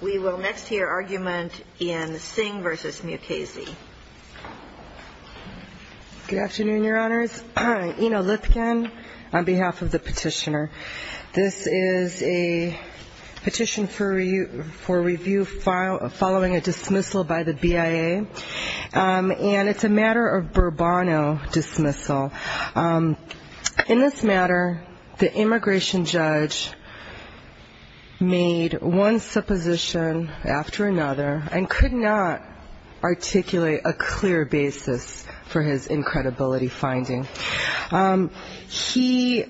We will next hear argument in Singh v. Mukasey. Good afternoon, Your Honors. Ina Lithgen on behalf of the petitioner. This is a petition for review following a dismissal by the BIA. And it's a matter of Bourbono dismissal. In this matter, the immigration judge made one supposition after another and could not articulate a clear basis for his incredibility finding. He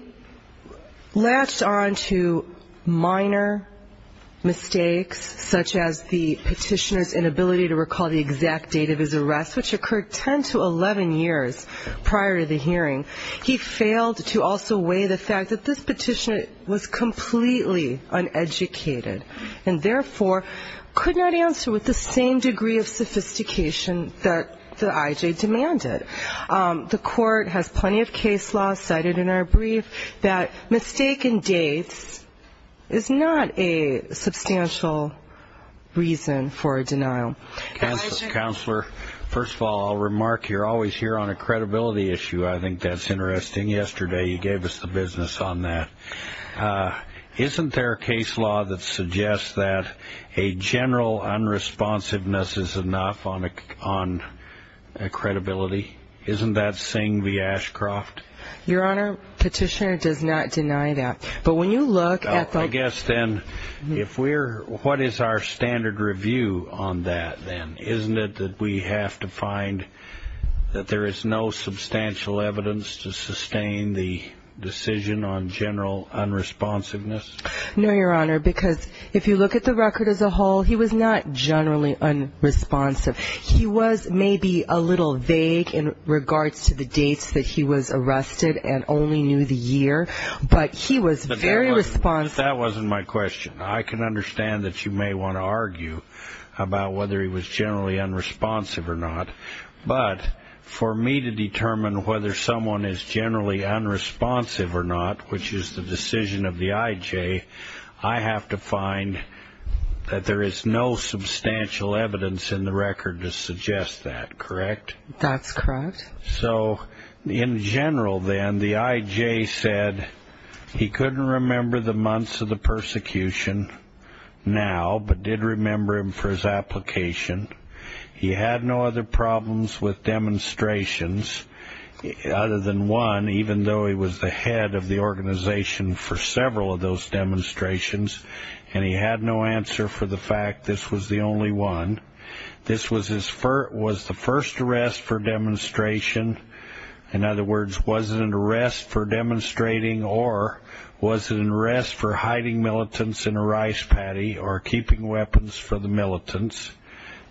latched on to minor mistakes, such as the petitioner's inability to recall the exact date of his arrest, which occurred 10 to 11 years prior to the hearing. He failed to also weigh the fact that this petitioner was completely uneducated and therefore could not answer with the same degree of sophistication that the IJ demanded. The Court has plenty of case law cited in our brief that mistaken dates is not a substantial reason for a denial. Counselor, first of all, I'll remark you're always here on a credibility issue. I think that's interesting. Yesterday you gave us the business on that. Isn't there a case law that suggests that a general unresponsiveness is enough on credibility? Isn't that Singh v. Ashcroft? Your Honor, petitioner does not deny that. I guess then, what is our standard review on that then? Isn't it that we have to find that there is no substantial evidence to sustain the decision on general unresponsiveness? No, Your Honor, because if you look at the record as a whole, he was not generally unresponsive. He was maybe a little vague in regards to the dates that he was arrested and only knew the year, but he was very responsive. That wasn't my question. I can understand that you may want to argue about whether he was generally unresponsive or not, but for me to determine whether someone is generally unresponsive or not, which is the decision of the IJ, I have to find that there is no substantial evidence in the record to suggest that, correct? That's correct. So in general then, the IJ said he couldn't remember the months of the persecution now, but did remember them for his application. He had no other problems with demonstrations other than one, even though he was the head of the organization for several of those demonstrations, and he had no answer for the fact this was the only one. This was the first arrest for demonstration. In other words, was it an arrest for demonstrating or was it an arrest for hiding militants in a rice paddy or keeping weapons for the militants?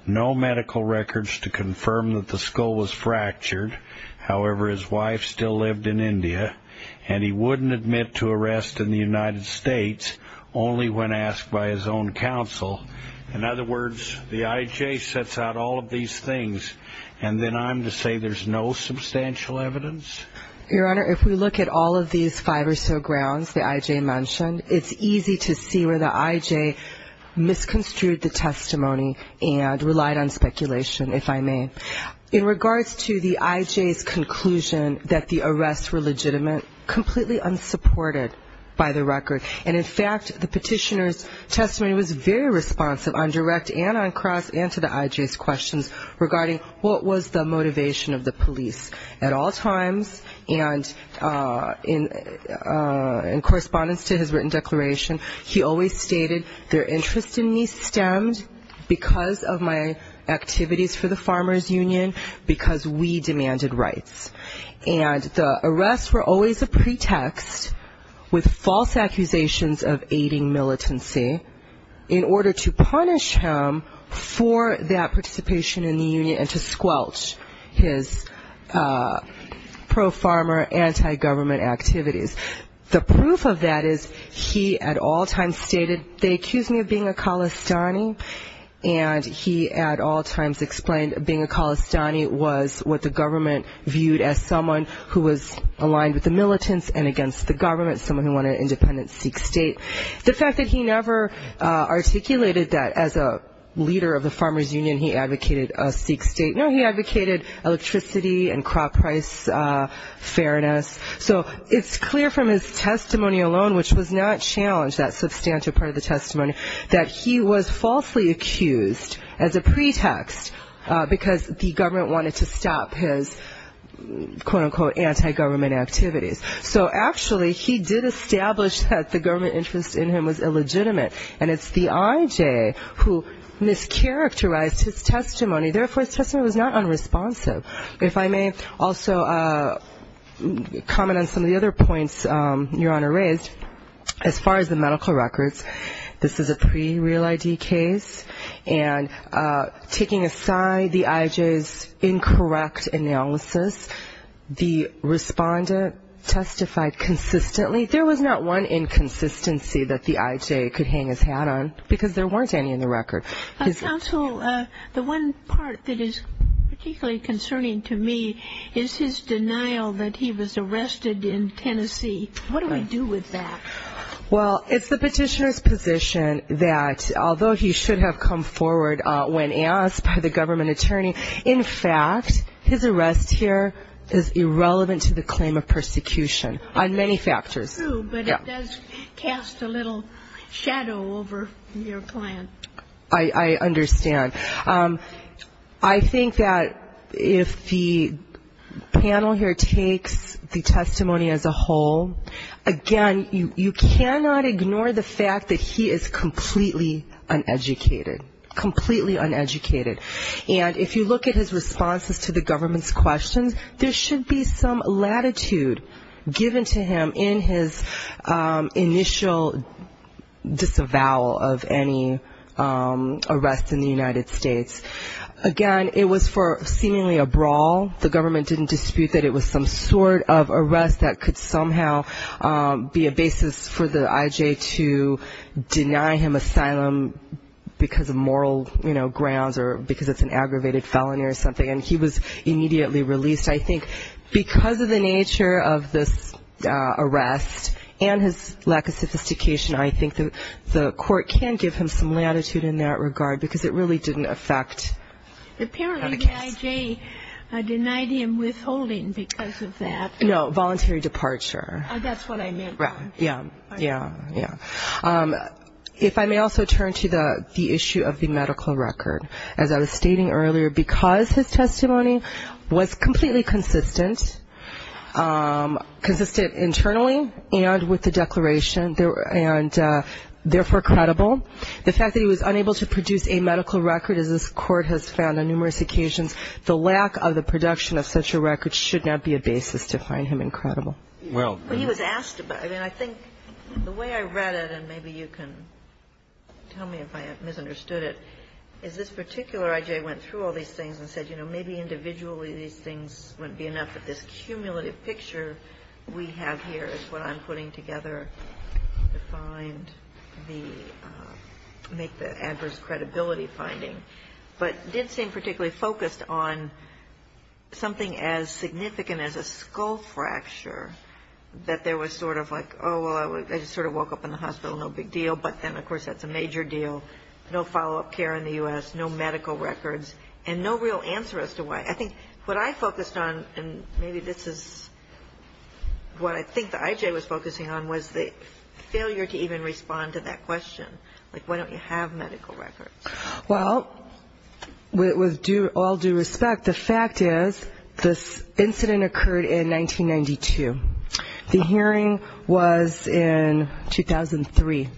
No medical records to confirm that the skull was fractured. However, his wife still lived in India, and he wouldn't admit to arrest in the United States only when asked by his own counsel. In other words, the IJ sets out all of these things, and then I'm to say there's no substantial evidence? Your Honor, if we look at all of these five or so grounds the IJ mentioned, it's easy to see where the IJ misconstrued the testimony and relied on speculation, if I may. In regards to the IJ's conclusion that the arrests were legitimate, completely unsupported by the record, and in fact the petitioner's testimony was very responsive on direct and on cross and to the IJ's questions regarding what was the motivation of the police at all times. And in correspondence to his written declaration, he always stated, their interest in me stemmed because of my activities for the Farmers Union, because we demanded rights. And the arrests were always a pretext with false accusations of aiding militancy in order to punish him for that participation in the union and to squelch his pro-farmer, anti-government activities. The proof of that is he at all times stated, they accused me of being a Khalistani, and he at all times explained being a Khalistani was what the government viewed as someone who was aligned with the militants and against the government, someone who wanted an independent Sikh state. The fact that he never articulated that as a leader of the Farmers Union he advocated a Sikh state, no, he advocated electricity and crop price fairness. So it's clear from his testimony alone, which was not challenged, that substantial part of the testimony, that he was falsely accused as a pretext because the government wanted to stop his, quote-unquote, anti-government activities. So actually he did establish that the government interest in him was illegitimate, and it's the IJ who mischaracterized his testimony. Therefore, his testimony was not unresponsive. If I may also comment on some of the other points Your Honor raised, as far as the medical records, this is a pre-real ID case, and taking aside the IJ's incorrect analysis, the respondent testified consistently. There was not one inconsistency that the IJ could hang his hat on because there weren't any in the record. Counsel, the one part that is particularly concerning to me is his denial that he was arrested in Tennessee. What do I do with that? Well, it's the petitioner's position that although he should have come forward when asked by the government attorney, in fact his arrest here is irrelevant to the claim of persecution on many factors. True, but it does cast a little shadow over your plan. I understand. I think that if the panel here takes the testimony as a whole, again, you cannot ignore the fact that he is completely uneducated, completely uneducated. And if you look at his responses to the government's questions, there should be some latitude given to him in his initial disavowal of any arrests in the United States. Again, it was for seemingly a brawl. The government didn't dispute that it was some sort of arrest that could somehow be a basis for the IJ to deny him asylum because of moral grounds or because it's an aggravated felony or something. And he was immediately released. I think because of the nature of this arrest and his lack of sophistication, I think the court can give him some latitude in that regard because it really didn't affect the case. Apparently the IJ denied him withholding because of that. No, voluntary departure. That's what I meant. Yeah, yeah, yeah. If I may also turn to the issue of the medical record. As I was stating earlier, because his testimony was completely consistent, consistent internally and with the declaration, and therefore credible, the fact that he was unable to produce a medical record, as this Court has found on numerous occasions, the lack of the production of such a record should not be a basis to find him incredible. Well, he was asked about it. And I think the way I read it, and maybe you can tell me if I have misunderstood it, is this particular IJ went through all these things and said, you know, maybe individually these things wouldn't be enough, but this cumulative picture we have here is what I'm putting together to find the – make the adverse credibility finding, but did seem particularly focused on something as significant as a skull fracture, that there was sort of like, oh, well, I just sort of woke up in the hospital, no big deal. But then, of course, that's a major deal. No follow-up care in the U.S., no medical records, and no real answer as to why. I think what I focused on, and maybe this is what I think the IJ was focusing on, was the failure to even respond to that question. Like, why don't you have medical records? Well, with all due respect, the fact is this incident occurred in 1992. The hearing was in 2003.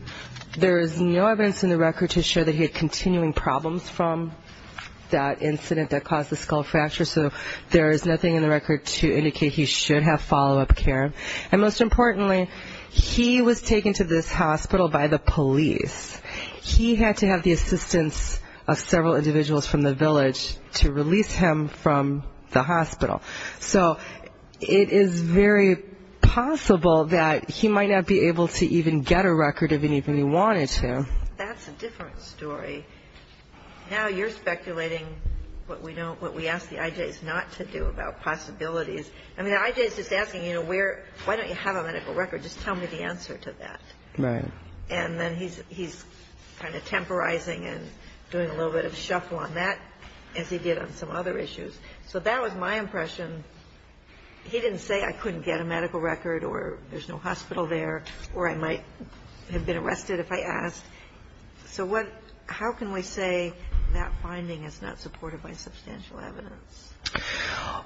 There is no evidence in the record to show that he had continuing problems from that incident that caused the skull fracture, so there is nothing in the record to indicate he should have follow-up care. And most importantly, he was taken to this hospital by the police. He had to have the assistance of several individuals from the village to release him from the hospital. So it is very possible that he might not be able to even get a record of anything he wanted to. That's a different story. Now you're speculating what we ask the IJs not to do about possibilities. I mean, the IJ is just asking, you know, why don't you have a medical record? Just tell me the answer to that. Right. And then he's kind of temporizing and doing a little bit of shuffle on that, as he did on some other issues. So that was my impression. He didn't say I couldn't get a medical record or there's no hospital there or I might have been arrested if I asked. So how can we say that finding is not supported by substantial evidence?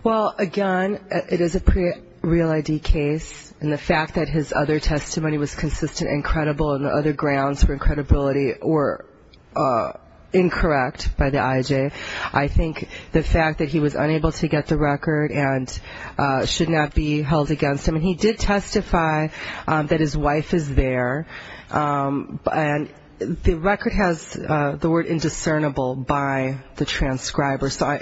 Well, again, it is a pre-real ID case, and the fact that his other testimony was consistent and credible and the other grounds for credibility were incorrect by the IJ. I think the fact that he was unable to get the record should not be held against him. And he did testify that his wife is there, and the record has the word indiscernible by the transcriber. So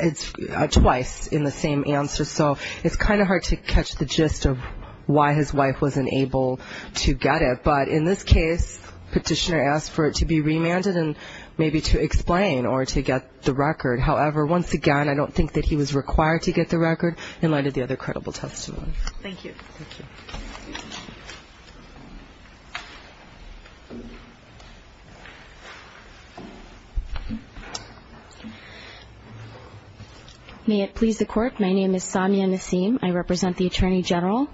it's twice in the same answer. So it's kind of hard to catch the gist of why his wife wasn't able to get it. But in this case, petitioner asked for it to be remanded and maybe to explain or to get the record. However, once again, I don't think that he was required to get the record in light of the other credible testimony. Thank you. Thank you. May it please the Court. My name is Samia Nassim. I represent the Attorney General.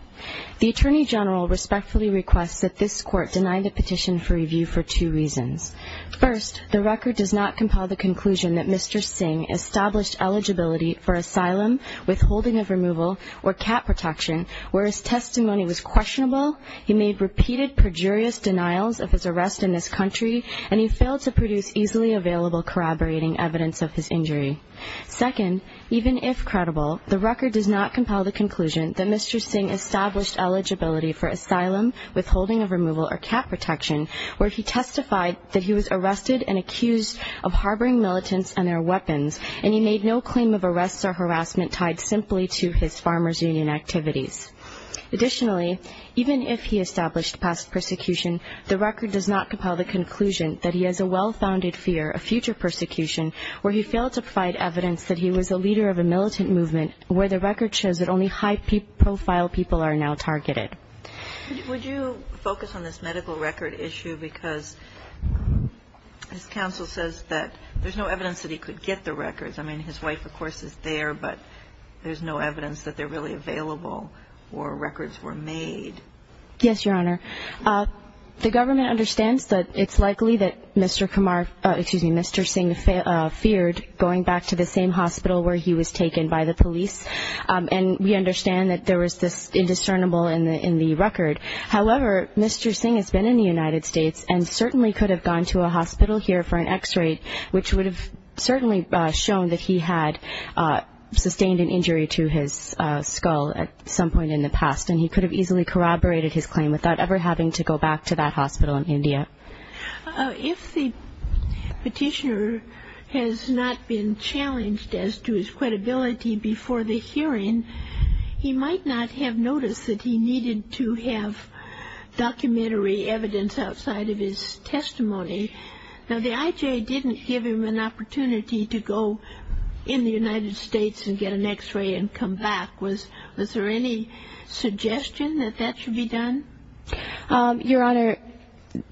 The Attorney General respectfully requests that this Court deny the petition for review for two reasons. First, the record does not compel the conclusion that Mr. Singh established eligibility for asylum, withholding of removal, or cat protection, whereas testimony was found to be consistent and credible. He made repeated perjurious denials of his arrest in this country, and he failed to produce easily available corroborating evidence of his injury. Second, even if credible, the record does not compel the conclusion that Mr. Singh established eligibility for asylum, withholding of removal, or cat protection, where he testified that he was arrested and accused of harboring militants and their weapons, and he made no claim of arrests or harassment tied simply to his Farmers Union activities. Additionally, even if he established past persecution, the record does not compel the conclusion that he has a well-founded fear of future persecution, where he failed to provide evidence that he was a leader of a militant movement, where the record shows that only high-profile people are now targeted. Would you focus on this medical record issue, because his counsel says that there's no evidence that he could get the records. I mean, his wife, of course, is there, but there's no evidence that they're really available or records were made. Yes, Your Honor. The government understands that it's likely that Mr. Kumar, excuse me, Mr. Singh feared going back to the same hospital where he was taken by the police, and we understand that there was this indiscernible in the record. However, Mr. Singh has been in the United States and certainly could have gone to a hospital here for an X-ray, which would have certainly shown that he had sustained an injury to his skull at some point in the past, and he could have easily corroborated his claim without ever having to go back to that hospital in India. If the petitioner has not been challenged as to his credibility before the hearing, he might not have noticed that he needed to have documentary evidence outside of his testimony. Now, the IJ didn't give him an opportunity to go in the United States and get an X-ray and come back. Was there any suggestion that that should be done? Your Honor,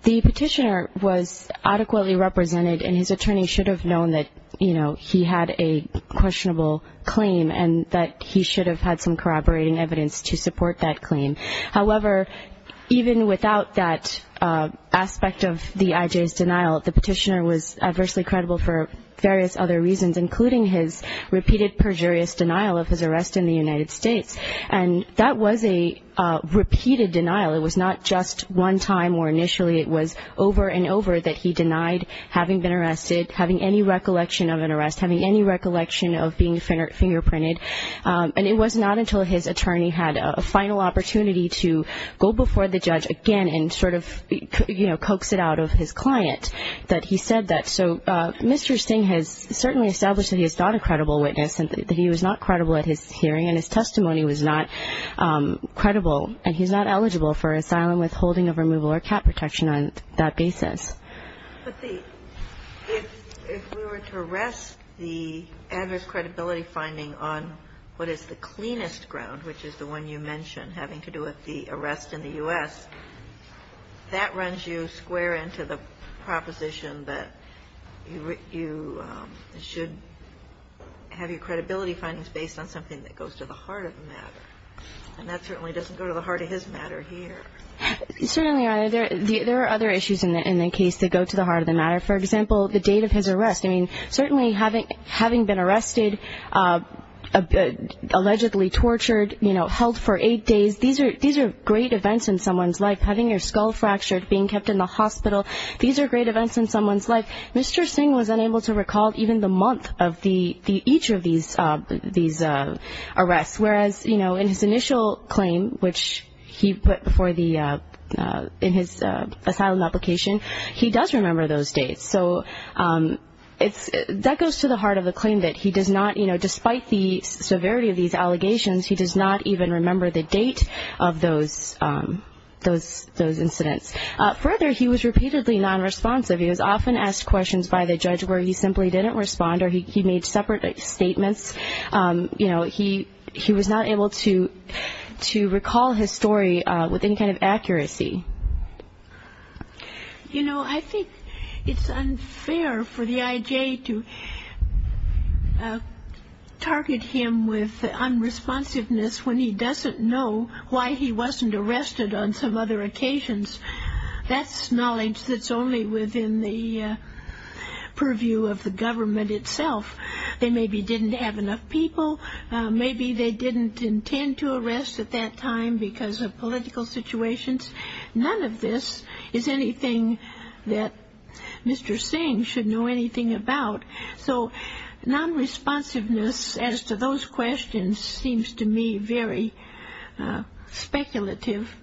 the petitioner was adequately represented, and his attorney should have known that, you know, he had a questionable claim and that he should have had some corroborating evidence to support that claim. However, even without that aspect of the IJ's denial, the petitioner was adversely credible for various other reasons, including his repeated perjurious denial of his arrest in the United States. And that was a repeated denial. It was not just one time or initially. It was over and over that he denied having been arrested, having any recollection of an arrest, having any recollection of being fingerprinted. And it was not until his attorney had a final opportunity to go before the judge again and sort of, you know, coax it out of his client that he said that. So Mr. Singh has certainly established that he is not a credible witness and that he was not credible at his hearing, and his testimony was not credible, and he's not eligible for asylum, withholding of removal, or cap protection on that basis. But the – if we were to arrest the adverse credibility finding on what is the cleanest ground, which is the one you mentioned, having to do with the arrest in the U.S., that runs you square into the proposition that you should have your credibility findings based on something that goes to the heart of the matter. And that certainly doesn't go to the heart of his matter here. Certainly, Your Honor. There are other issues in the case that go to the heart of the matter. For example, the date of his arrest. I mean, certainly having been arrested, allegedly tortured, you know, held for eight days, these are great events in someone's life. Having your skull fractured, being kept in the hospital, these are great events in someone's life. Mr. Singh was unable to recall even the month of each of these arrests. Whereas, you know, in his initial claim, which he put before the – in his asylum application, he does remember those dates. So that goes to the heart of the claim that he does not, you know, despite the severity of these allegations, he does not even remember the date of those incidents. Further, he was repeatedly nonresponsive. He was often asked questions by the judge where he simply didn't respond or he made separate statements. You know, he was not able to recall his story with any kind of accuracy. You know, I think it's unfair for the I.J. to target him with unresponsiveness when he doesn't know why he wasn't arrested on some other occasions. That's knowledge that's only within the purview of the government itself. They maybe didn't have enough people. Maybe they didn't intend to arrest at that time because of political situations. None of this is anything that Mr. Singh should know anything about. So nonresponsiveness as to those questions seems to me very speculative.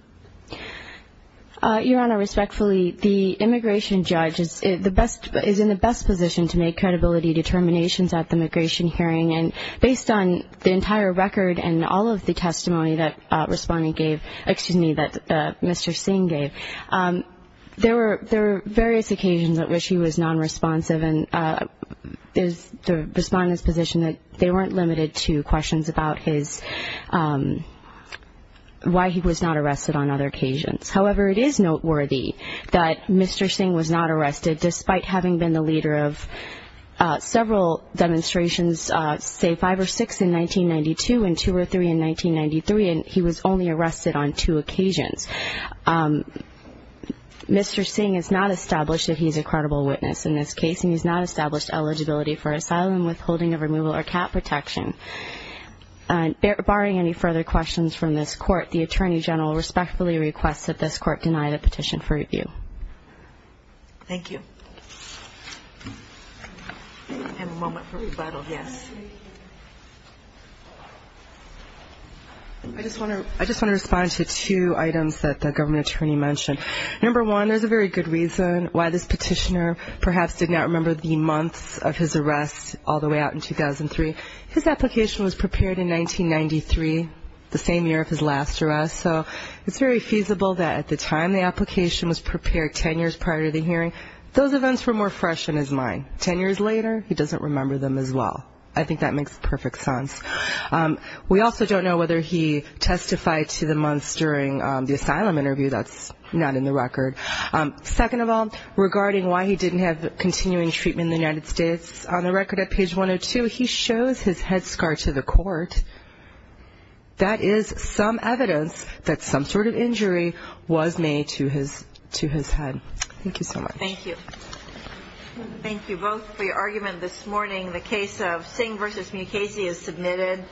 Your Honor, respectfully, the immigration judge is in the best position to make credibility determinations at the immigration hearing. And based on the entire record and all of the testimony that Mr. Singh gave, there were various occasions at which he was nonresponsive. And the respondent's position is that they weren't limited to questions about why he was not arrested on other occasions. However, it is noteworthy that Mr. Singh was not arrested despite having been the leader of several demonstrations, say five or six in 1992 and two or three in 1993, and he was only arrested on two occasions. Mr. Singh has not established that he's a credible witness in this case, and he's not established eligibility for asylum, withholding of removal, or cat protection. Barring any further questions from this Court, Thank you. We have a moment for rebuttal, yes. I just want to respond to two items that the government attorney mentioned. Number one, there's a very good reason why this petitioner perhaps did not remember the months of his arrest all the way out in 2003. His application was prepared in 1993, the same year of his last arrest, so it's very feasible that at the time the application was prepared, ten years prior to the hearing, those events were more fresh in his mind. Ten years later, he doesn't remember them as well. I think that makes perfect sense. We also don't know whether he testified to the months during the asylum interview. That's not in the record. Second of all, regarding why he didn't have continuing treatment in the United States, on the record at page 102, he shows his head scar to the Court. That is some evidence that some sort of injury was made to his head. Thank you so much. Thank you both for your argument this morning. The case of Singh v. Mukasey is submitted.